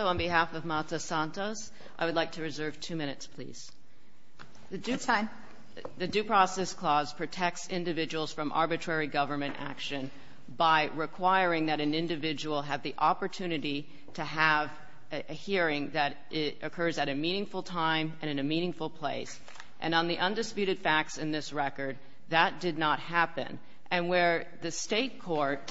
On behalf of Marta Santos, I would like to reserve two minutes, please. It's fine. The Due Process Clause protects individuals from arbitrary government action by requiring that an individual have the opportunity to have a hearing that occurs at a meaningful time and in a meaningful place. And on the undisputed facts in this record, that did not happen. And where the State court,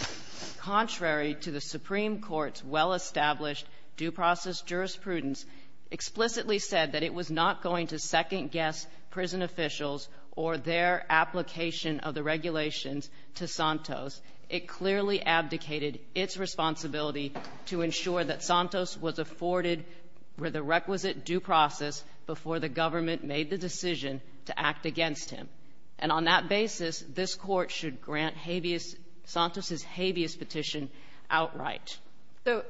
contrary to the Supreme Court's well-established due process jurisprudence, explicitly said that it was not going to second-guess prison officials or their application of the regulations to Santos, it clearly abdicated its responsibility to ensure that Santos was afforded the requisite due process before the government made the decision to act against him. And on that basis, this Court should grant habeas — Santos's habeas petition outright. So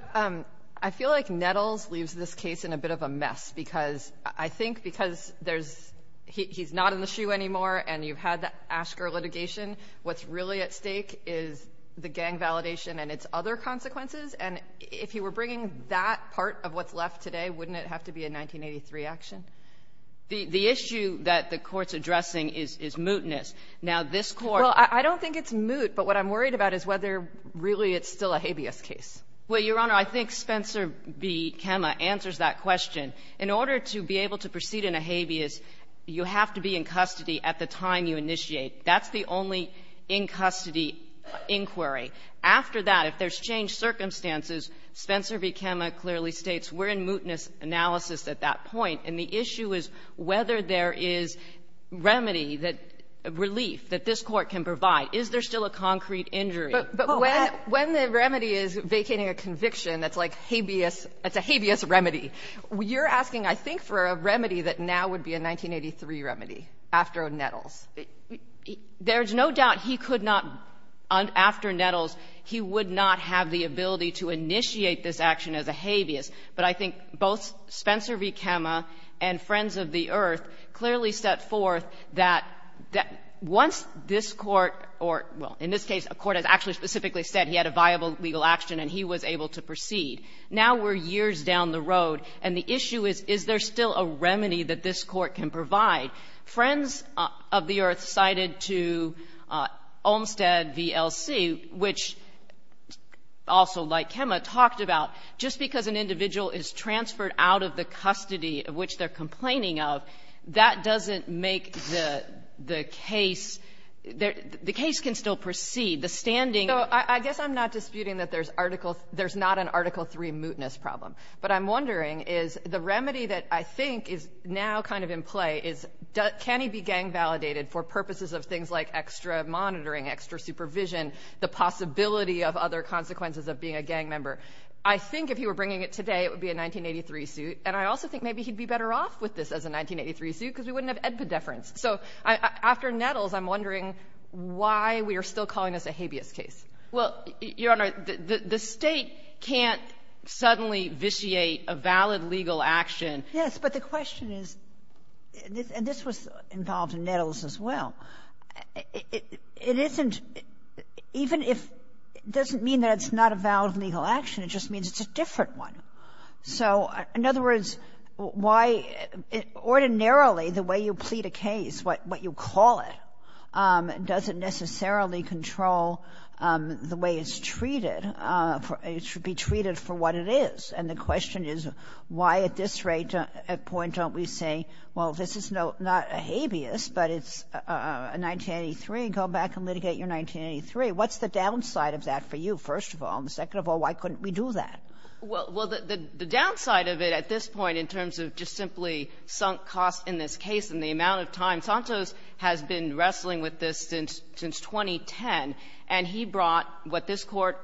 I feel like Nettles leaves this case in a bit of a mess, because I think because there's — he's not in the shoe anymore, and you've had the Asker litigation. What's really at stake is the gang validation and its other consequences. And if he were bringing that part of what's left today, wouldn't it have to be a 1983 action? The issue that the Court's addressing is — is mootness. Now, this Court — Well, I don't think it's moot, but what I'm worried about is whether really it's still a habeas case. Well, Your Honor, I think Spencer v. Kemme answers that question. In order to be able to proceed in a habeas, you have to be in custody at the time you initiate. That's the only in-custody inquiry. After that, if there's changed circumstances, Spencer v. Kemme clearly states we're in mootness analysis at that point. And the issue is whether there is remedy that — relief that this Court can provide. Is there still a concrete injury? But when — when the remedy is vacating a conviction that's like habeas — it's a habeas remedy, you're asking, I think, for a remedy that now would be a 1983 remedy after Nettles. There's no doubt he could not, after Nettles, he would not have the ability to initiate this action as a habeas. But I think both Spencer v. Kemme and Friends of the Earth clearly set forth that once this Court — or, well, in this case, a court has actually specifically said he had a viable legal action and he was able to proceed. Now we're years down the road, and the issue is, is there still a remedy that this Court can provide? Friends of the Earth cited to Olmstead v. LC, which also, like just because an individual is transferred out of the custody of which they're complaining of, that doesn't make the — the case — the case can still proceed. The standing — So I guess I'm not disputing that there's Article — there's not an Article III mootness problem. But I'm wondering, is the remedy that I think is now kind of in play is, can he be gang-validated for purposes of things like extra monitoring, extra supervision, the possibility of other consequences of being a gang member? I think if he were bringing it today, it would be a 1983 suit. And I also think maybe he'd be better off with this as a 1983 suit because we wouldn't have edpedeference. So after Nettles, I'm wondering why we are still calling this a habeas case. Well, Your Honor, the — the State can't suddenly vitiate a valid legal action. Yes, but the question is — and this was involved in Nettles as well. It isn't — even if — it doesn't mean that it's not a valid legal action. It just means it's a different one. So in other words, why — ordinarily, the way you plead a case, what you call it, doesn't necessarily control the way it's treated for — it should be treated for what it is. And the question is, why at this rate, at point, don't we say, well, this is not a habeas, but it's a 1983, go back and litigate your 1983? What's the downside of that for you, first of all? And second of all, why couldn't we do that? Well, the downside of it at this point in terms of just simply sunk costs in this case and the amount of time, Santos has been wrestling with this since 2010. And he brought what this Court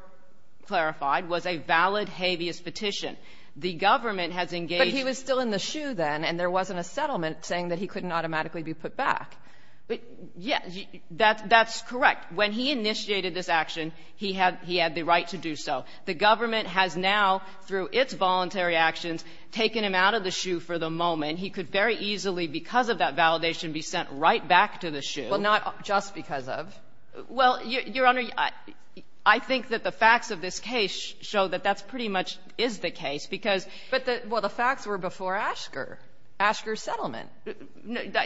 clarified was a valid habeas petition. The government has engaged — But he was still in the shoe then, and there wasn't a settlement saying that he couldn't automatically be put back. But, yes, that's correct. When he initiated this action, he had the right to do so. The government has now, through its voluntary actions, taken him out of the shoe for the moment. He could very easily, because of that validation, be sent right back to the shoe. Well, not just because of. Well, Your Honor, I think that the facts of this case show that that pretty much is the case, because — But the — well, the facts were before Asker, Asker's settlement.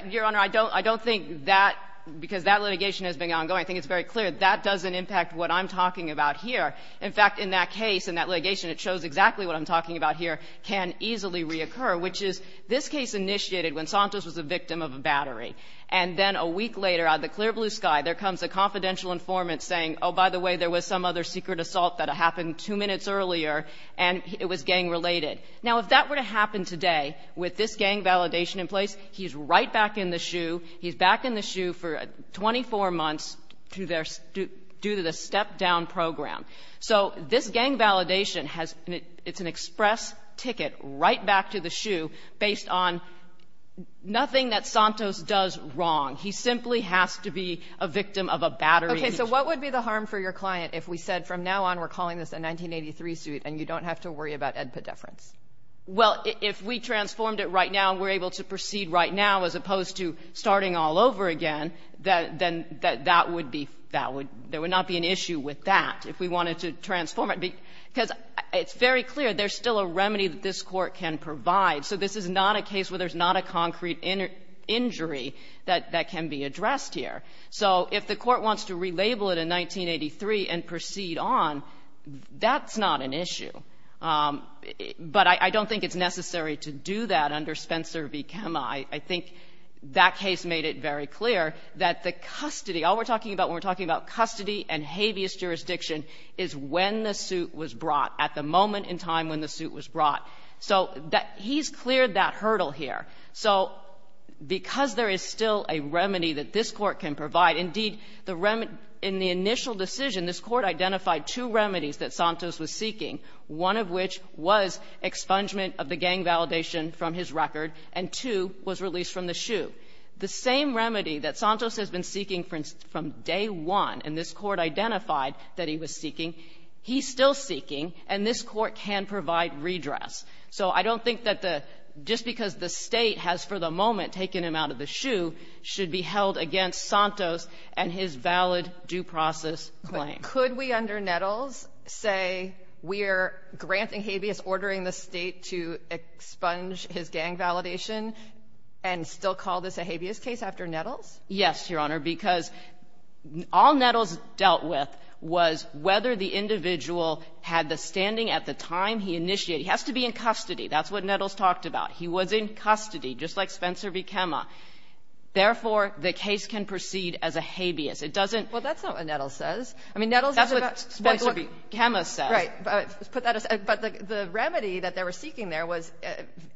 Your Honor, I don't — I don't think that — because that litigation has been ongoing. I think it's very clear that that doesn't impact what I'm talking about here. In fact, in that case, in that litigation, it shows exactly what I'm talking about here can easily reoccur, which is this case initiated when Santos was a victim of a battery. And then a week later, out of the clear blue sky, there comes a confidential informant saying, oh, by the way, there was some other secret assault that happened two minutes earlier, and it was gang-related. Now, if that were to happen today, with this gang validation in place, he's right back in the shoe. He's back in the shoe for 24 months to their — due to the step-down program. So this gang validation has — it's an express ticket right back to the shoe based on nothing that Santos does wrong. He simply has to be a victim of a battery. Okay. So what would be the harm for your client if we said from now on we're calling this a 1983 suit and you don't have to worry about AEDPA deference? Well, if we transformed it right now and we're able to proceed right now as opposed to starting all over again, then that would be — that would — there would not be an issue with that if we wanted to transform it. Because it's very clear there's still a remedy that this Court can provide. So this is not a case where there's not a concrete injury that can be addressed here. So if the Court wants to relabel it in 1983 and proceed on, that's not an issue. But I don't think it's necessary to do that under Spencer v. Kemme. I think that case made it very clear that the custody — all we're talking about when we're talking about custody and habeas jurisdiction is when the suit was brought, at the moment in time when the suit was brought. So he's cleared that hurdle here. So because there is still a remedy that this Court can provide, indeed, the remedy — in the initial decision, this Court identified two remedies that Santos was seeking, one of which was expungement of the gang validation from his record, and two was released from the shoot. The same remedy that Santos has been seeking from day one, and this Court identified that he was seeking, he's still seeking, and this Court can provide redress. So I don't think that the — just because the State has, for the moment, taken him out of the shoe, should be held against Santos and his valid due process claim. But could we, under Nettles, say we're granting habeas, ordering the State to expunge his gang validation, and still call this a habeas case after Nettles? Yes, Your Honor, because all Nettles dealt with was whether the individual had the standing at the time he initiated. He has to be in custody. That's what Nettles talked about. He was in custody, just like Spencer v. Kemme. Therefore, the case can proceed as a habeas. It doesn't — Well, that's not what Nettles says. I mean, Nettles is about — That's what Spencer v. Kemme says. Right. But put that aside. But the remedy that they were seeking there was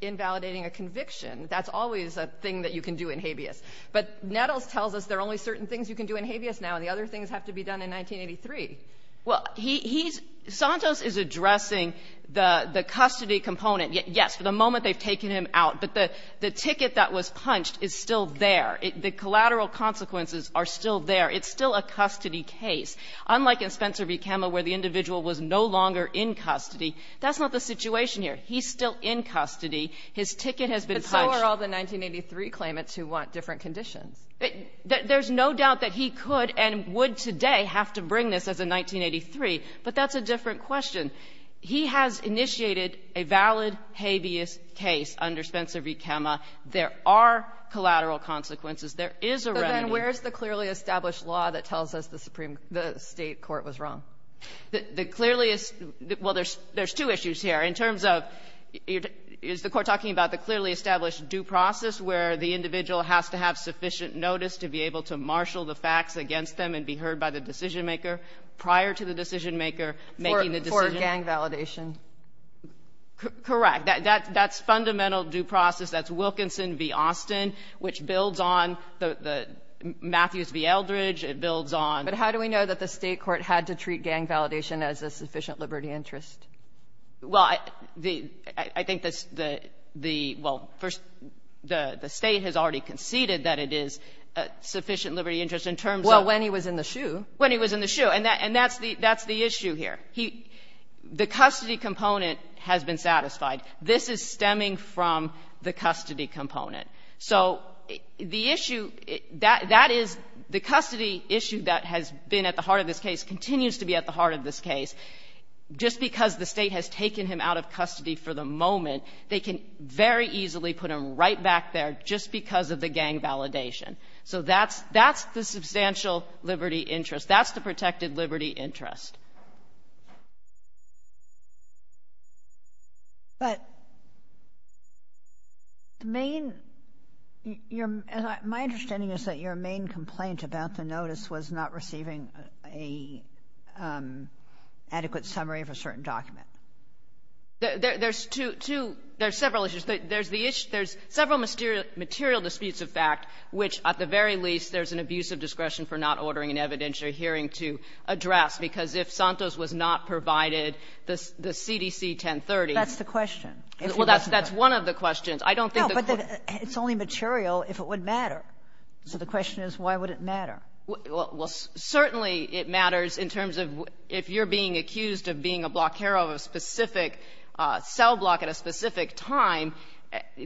invalidating a conviction. That's always a thing that you can do in habeas. But Nettles tells us there are only certain things you can do in habeas now, and the other things have to be done in 1983. Well, he's — Santos is addressing the custody component. Yes, for the moment, they've taken him out. But the ticket that was punched is still there. The collateral consequences are still there. It's still a custody case. Unlike in Spencer v. Kemme, where the individual was no longer in custody, that's not the situation here. He's still in custody. His ticket has been punched. But so are all the 1983 claimants who want different conditions. There's no doubt that he could and would today have to bring this as a 1983, but that's a different question. He has initiated a valid habeas case under Spencer v. Kemme. There are collateral consequences. There is a remedy. But then where is the clearly established law that tells us the Supreme — the State court was wrong? The clearly — well, there's two issues here. In terms of, is the Court talking about the clearly established due process where the individual has to have sufficient notice to be able to marshal the facts against them and be heard by the decisionmaker prior to the decisionmaker making the decision? For gang validation. Correct. That's fundamental due process. That's Wilkinson v. Austin, which builds on the — Matthews v. Eldridge. It builds on — But how do we know that the State court had to treat gang validation as a sufficient liberty interest? Well, the — I think the — the — well, first, the State has already conceded that it is a sufficient liberty interest in terms of — Well, when he was in the SHU. When he was in the SHU. And that's the — that's the issue here. He — the custody component has been satisfied. This is stemming from the custody component. So the issue — that is — the custody issue that has been at the heart of this case continues to be at the heart of this case. Just because the State has taken him out of custody for the moment, they can very easily put him right back there just because of the gang validation. So that's — that's the substantial liberty interest. That's the protected liberty interest. But the main — your — my understanding is that your main complaint about the notice was not receiving a adequate summary of a certain document. There's two — two — there's several issues. There's the issue — there's several material disputes of fact, which, at the very least, there's an abuse of discretion for not ordering an evidentiary hearing to address, because if Santos was not provided the CDC 1030 — That's the question. Well, that's — that's one of the questions. I don't think the court — No, but it's only material if it would matter. So the question is, why would it matter? Well, certainly it matters in terms of — if you're being accused of being a block hero of a specific cell block at a specific time,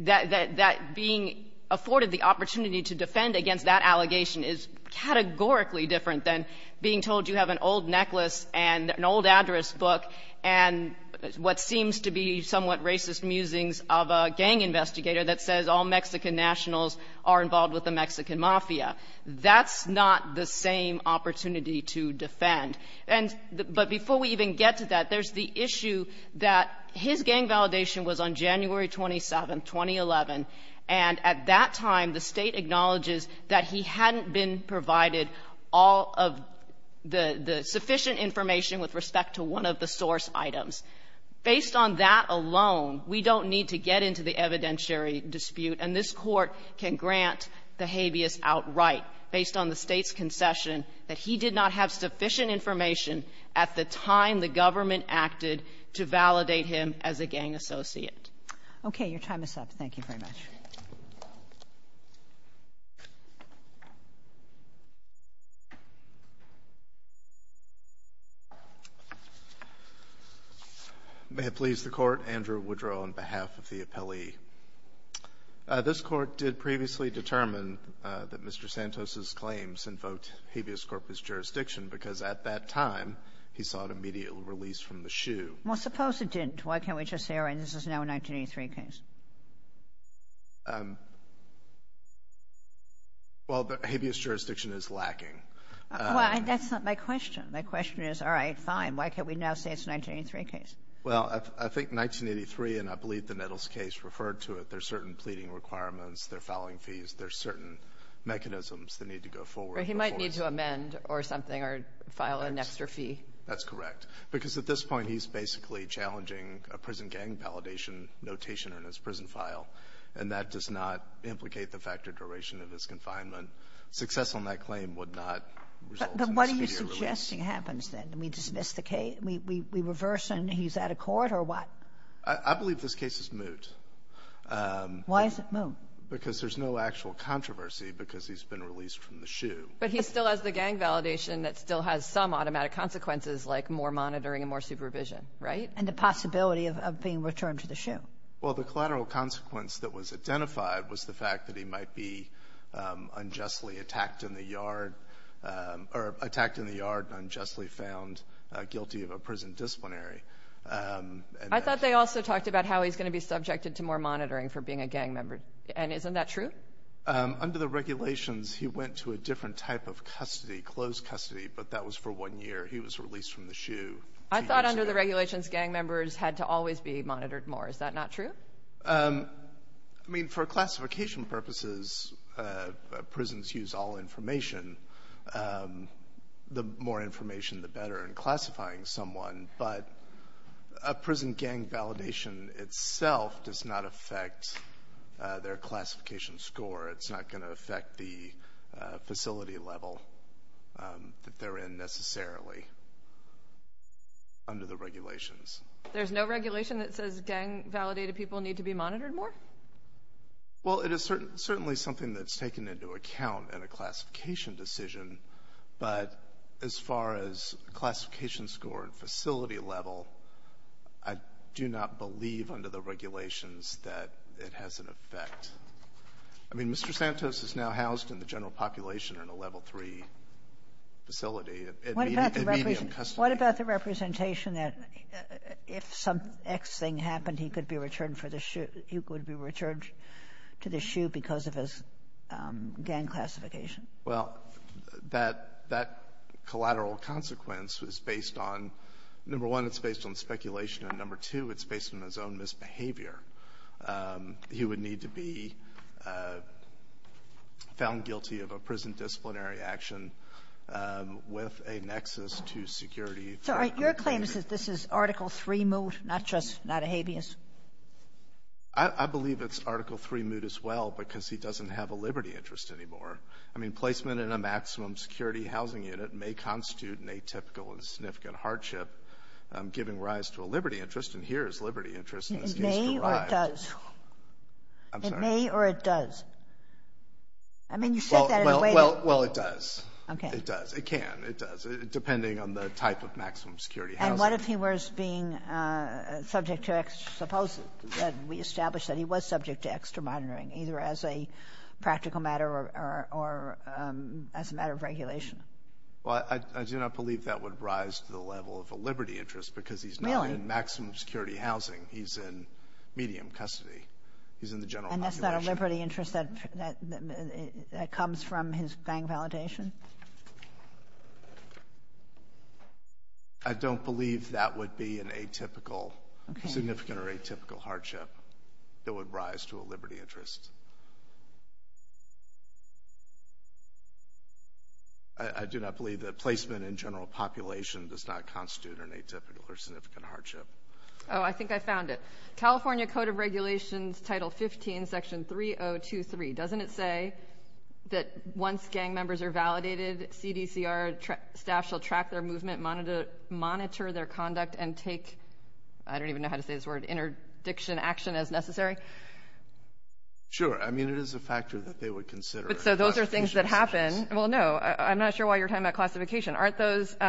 that — that being afforded the opportunity to defend against that allegation is categorically different than being told you have an old necklace and an old address book and what seems to be somewhat racist musings of a gang investigator that says all Mexican nationals are involved with the Mexican mafia. That's not the same opportunity to defend. And — but before we even get to that, there's the issue that his gang validation was on January 27, 2011, and at that time, the State acknowledges that he hadn't been provided all of the — the sufficient information with respect to one of the source items. Based on that alone, we don't need to get into the evidentiary dispute, and this Court can grant the habeas outright based on the State's concession that he did not have sufficient information at the time the government acted to validate him as a gang associate. Okay. Your time is up. Thank you very much. May it please the Court. Andrew Woodrow on behalf of the appellee. This Court did previously determine that Mr. Santos's claims invoked habeas corpus jurisdiction because at that time he sought immediate release from the SHU. Well, suppose it didn't. Why can't we just say, all right, this is now a 1983 case? Well, the habeas jurisdiction is lacking. Well, that's not my question. My question is, all right, fine. Why can't we now say it's a 1983 case? Well, I think 1983, and I believe the Nettles case referred to it, there's certain pleading requirements, there are fouling fees, there are certain mechanisms that need to go forward. He might need to amend or something or file an extra fee. That's correct. Because at this point, he's basically challenging a prison gang validation notation in his prison file, and that does not implicate the factor duration of his confinement. Success on that claim would not result in immediate release. But what are you suggesting happens then? Do we dismiss the case? We reverse and he's out of court or what? I believe this case is moot. Why is it moot? Because there's no actual controversy because he's been released from the SHU. But he still has the gang validation that still has some automatic consequences like more monitoring and more supervision, right? And the possibility of being returned to the SHU. Well, the collateral consequence that was identified was the fact that he might be unjustly attacked in the yard, or attacked in the yard and unjustly found guilty of a prison disciplinary. I thought they also talked about how he's going to be subjected to more monitoring for being a gang member. And isn't that true? Under the regulations, he went to a different type of custody, closed custody, but that was for one year. He was released from the SHU. I thought under the regulations, gang members had to always be monitored more. Is that not true? I mean, for classification purposes, prisons use all information. The more information, the better in classifying someone. But a prison gang validation itself does not affect their classification score. It's not going to affect the facility level that they're in necessarily under the regulations. There's no regulation that says gang validated people need to be monitored more? Well, it is certainly something that's taken into account in a classification decision, but as far as classification score and facility level, I do not believe under the regulations that it has an effect. I mean, Mr. Santos is now housed in the general population in a Level III facility. It may be in custody. What about the representation that if some X thing happened, he could be returned to the SHU because of his gang classification? Well, that collateral consequence is based on, number one, it's based on speculation. And number two, it's based on his own misbehavior. He would need to be found guilty of a prison disciplinary action with a nexus to security. So are your claims that this is Article III moot, not just not a habeas? I believe it's Article III moot as well because he doesn't have a liberty interest anymore. I mean, placement in a maximum security housing unit may constitute an atypical and significant hardship, giving rise to a liberty interest. And here is liberty interest in this case derived. It may or it does? I'm sorry. It may or it does? I mean, you said that in a way that you don't know. Well, it does. It does. It can. It does. Depending on the type of maximum security housing. And what if he was being subject to extra — suppose that we establish that he was subject to extra monitoring, either as a practical matter or as a matter of regulation? Well, I do not believe that would rise to the level of a liberty interest because he's not in maximum security housing. Really? He's in medium custody. He's in the general population. And that's not a liberty interest that comes from his gang validation? I don't believe that would be an atypical — Okay. — significant or atypical hardship that would rise to a liberty interest. I do not believe that placement in general population does not constitute an atypical or significant hardship. Oh, I think I found it. California Code of Regulations, Title 15, Section 3023, doesn't it say that once gang members are validated, CDCR staff shall track their movement, monitor their conduct, and take — I don't even know how to say this word — interdiction action as necessary? Sure. I mean, it is a factor that they would consider. But so those are things that happen. Well, no. I'm not sure why you're talking about classification. Aren't those —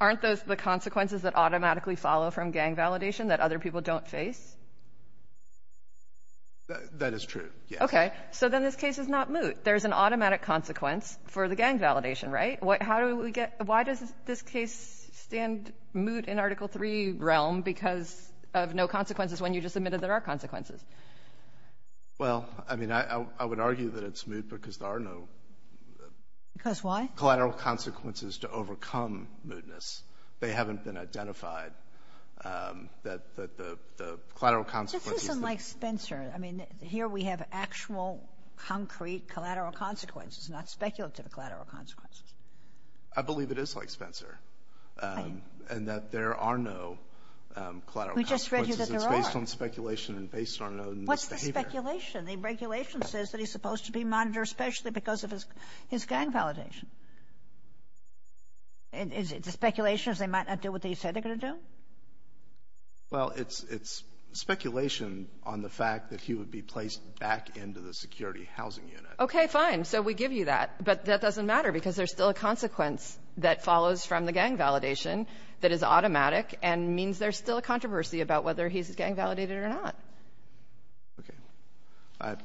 aren't those the consequences that automatically follow from gang validation that other people don't face? That is true, yes. Okay. So then this case is not moot. There's an automatic consequence for the gang validation, right? How do we get — why does this case stand moot in Article III realm because of no consequences when you just admitted there are consequences? Well, I mean, I would argue that it's moot because there are no — Because why? — collateral consequences to overcome mootness. They haven't been identified that the collateral consequence is the — But this isn't like Spencer. I mean, here we have actual, concrete collateral consequences, not speculative collateral consequences. I believe it is like Spencer, and that there are no collateral consequences. We just read you that there are. It's based on speculation and based on misbehavior. What's the speculation? The regulation says that he's supposed to be monitored especially because of his gang validation. Is it the speculation is they might not do what they said they're going to do? Well, it's speculation on the fact that he would be placed back into the security housing unit. Okay, fine. So we give you that. But that doesn't matter because there's still a consequence that follows from the gang validation that is automatic and means there's still a controversy about whether he's gang validated or not. Okay.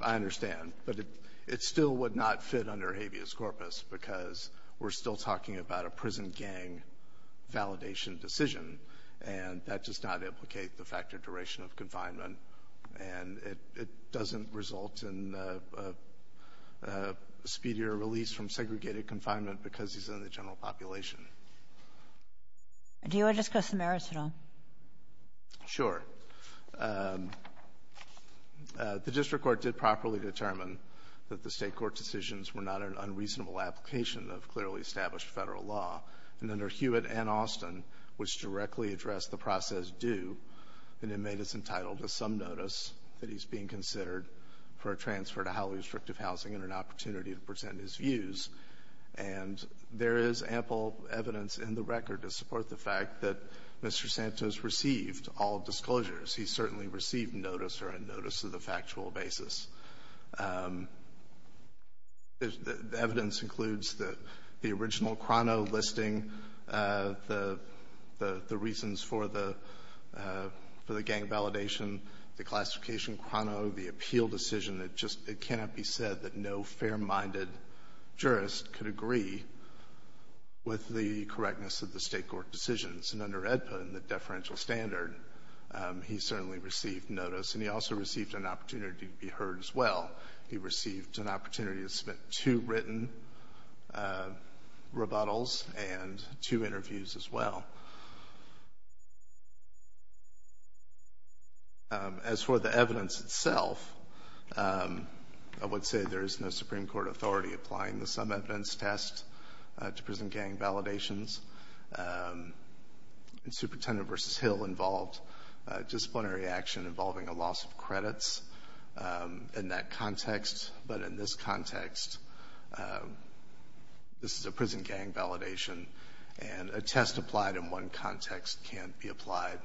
I understand. But it still would not fit under habeas corpus because we're still talking about a prison gang validation decision, and that does not implicate the fact of duration of confinement. And it doesn't result in a speedier release from segregated confinement because he's in the general population. Do you want to discuss the merits at all? Sure. The district court did properly determine that the State court decisions were not an unreasonable application of clearly established Federal law. And under Hewitt and Austin, which directly addressed the process due, it made us entitled to some notice that he's being considered for a transfer to highly restrictive housing and an opportunity to present his views. And there is ample evidence in the record to support the fact that Mr. Santos received all disclosures. He certainly received notice or a notice of the factual basis. The evidence includes the original Crono listing, the reasons for the gang validation, the classification Crono, the appeal decision. It just — it cannot be said that no fair-minded jurist could agree with the correctness of the State court decisions. And under AEDPA and the deferential standard, he certainly received notice. And he also received an opportunity to be heard as well. He received an opportunity to submit two written rebuttals and two interviews as well. As for the evidence itself, I would say there is no Supreme Court authority applying the sum evidence test to prison gang validations. And Superintendent v. Hill involved disciplinary action involving a loss of credits in that context. But in this context, this is a prison gang validation, and a test applied in one context can't be applied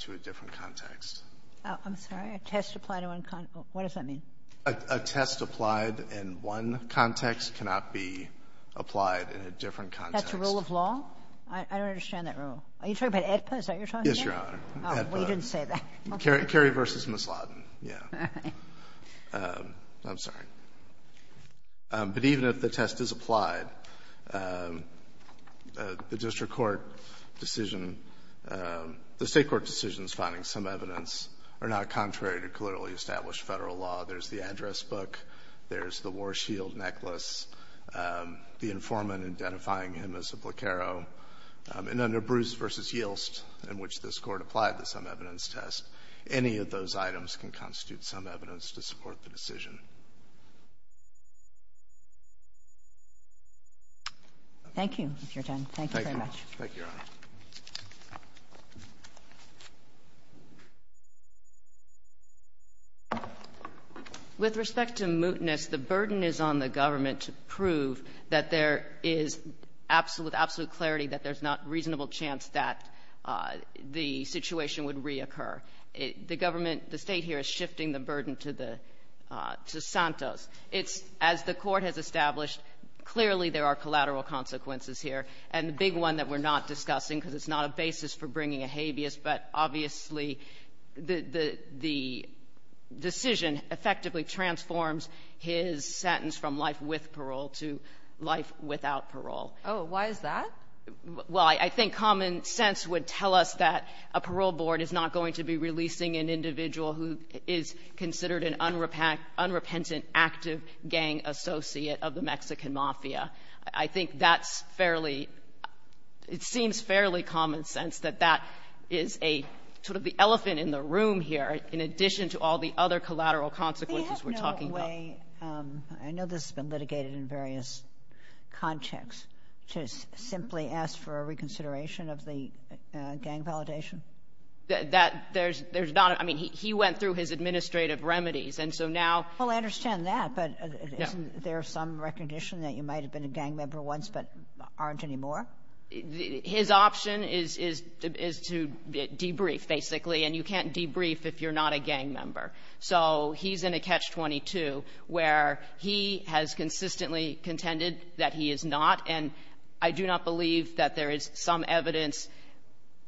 to a different context. Ginsburg. I'm sorry? A test applied in one context? What does that mean? Miller. A test applied in one context cannot be applied in a different context. That's a rule of law? I don't understand that rule. Are you talking about AEDPA? Is that what you're talking about? Yes, Your Honor. Oh, well, you didn't say that. Kerry v. Misladen. Yeah. All right. I'm sorry. But even if the test is applied, the district court decision — the State court decisions finding sum evidence are not contrary to clearly established Federal law. There's the address book, there's the Warshield necklace, the informant identifying him as a blockero. And under Brews v. Yilst, in which this Court applied the sum evidence test, any of those items can constitute sum evidence to support the decision. Thank you. You're done. Thank you very much. Thank you, Your Honor. With respect to mootness, the burden is on the government to prove that there is absolute — with absolute clarity that there's not a reasonable chance that the situation would reoccur. The government — the State here is shifting the burden to the — to Santos. It's — as the Court has established, clearly there are collateral consequences here. And the big one that we're not discussing, because it's not a basis for bringing a habeas, but obviously the — the decision effectively transforms his sentence from life with parole to life without parole. Oh, why is that? Well, I think common sense would tell us that a parole board is not going to be releasing an individual who is considered an unrepentant, active gang associate of the Mexican Mafia. I think that's fairly — it seems fairly common sense that that is a — sort of the elephant in the room here, in addition to all the other collateral consequences we're talking about. I have no way — I know this has been litigated in various contexts. To simply ask for a reconsideration of the gang validation? That — there's not — I mean, he went through his administrative remedies. And so now — Well, I understand that, but isn't there some recognition that you can't do that? You might have been a gang member once, but aren't anymore? His option is — is to debrief, basically. And you can't debrief if you're not a gang member. So he's in a catch-22 where he has consistently contended that he is not. And I do not believe that there is some evidence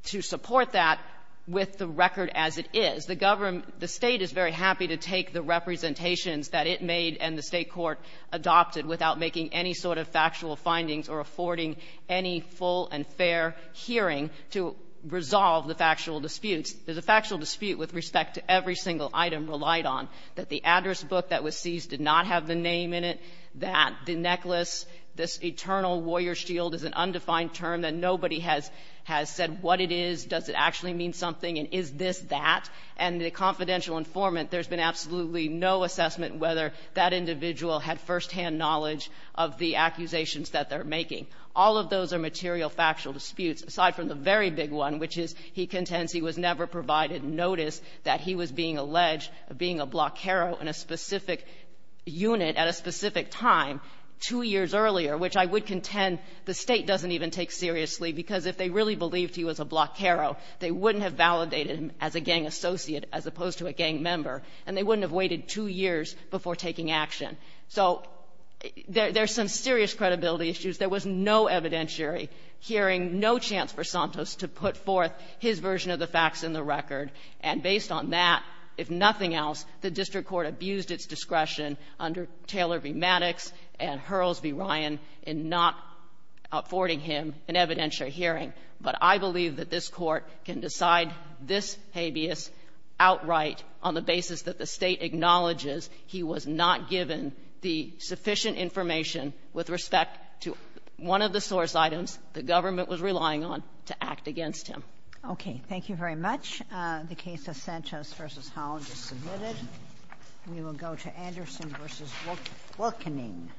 to support that with the record as it is. The government — the State is very happy to take the representations that it made and the State court adopted without making any sort of factual findings or affording any full and fair hearing to resolve the factual disputes. There's a factual dispute with respect to every single item relied on, that the address book that was seized did not have the name in it, that the necklace, this eternal warrior shield is an undefined term, that nobody has — has said what it is, does it actually mean something, and is this that. And the confidential informant, there's been absolutely no assessment whether that individual had firsthand knowledge of the accusations that they're making. All of those are material factual disputes, aside from the very big one, which is he contends he was never provided notice that he was being alleged of being a blockero in a specific unit at a specific time two years earlier, which I would contend the State doesn't even take seriously, because if they really believed he was a blockero, they wouldn't have validated him as a gang associate as opposed to a gang member, and they wouldn't have waited two years before taking action. So there's some serious credibility issues. There was no evidentiary hearing, no chance for Santos to put forth his version of the facts in the record. And based on that, if nothing else, the district court abused its discretion under Taylor v. Maddox and Hurls v. Ryan in not affording him an evidentiary hearing. But I believe that this Court can decide this habeas outright on the basis that the State acknowledges he was not given the sufficient information with respect to one of the source items the government was relying on to act against him. Okay. Thank you very much. The case of Santos v. Holland is submitted. We will go to Anderson v. Wilkening.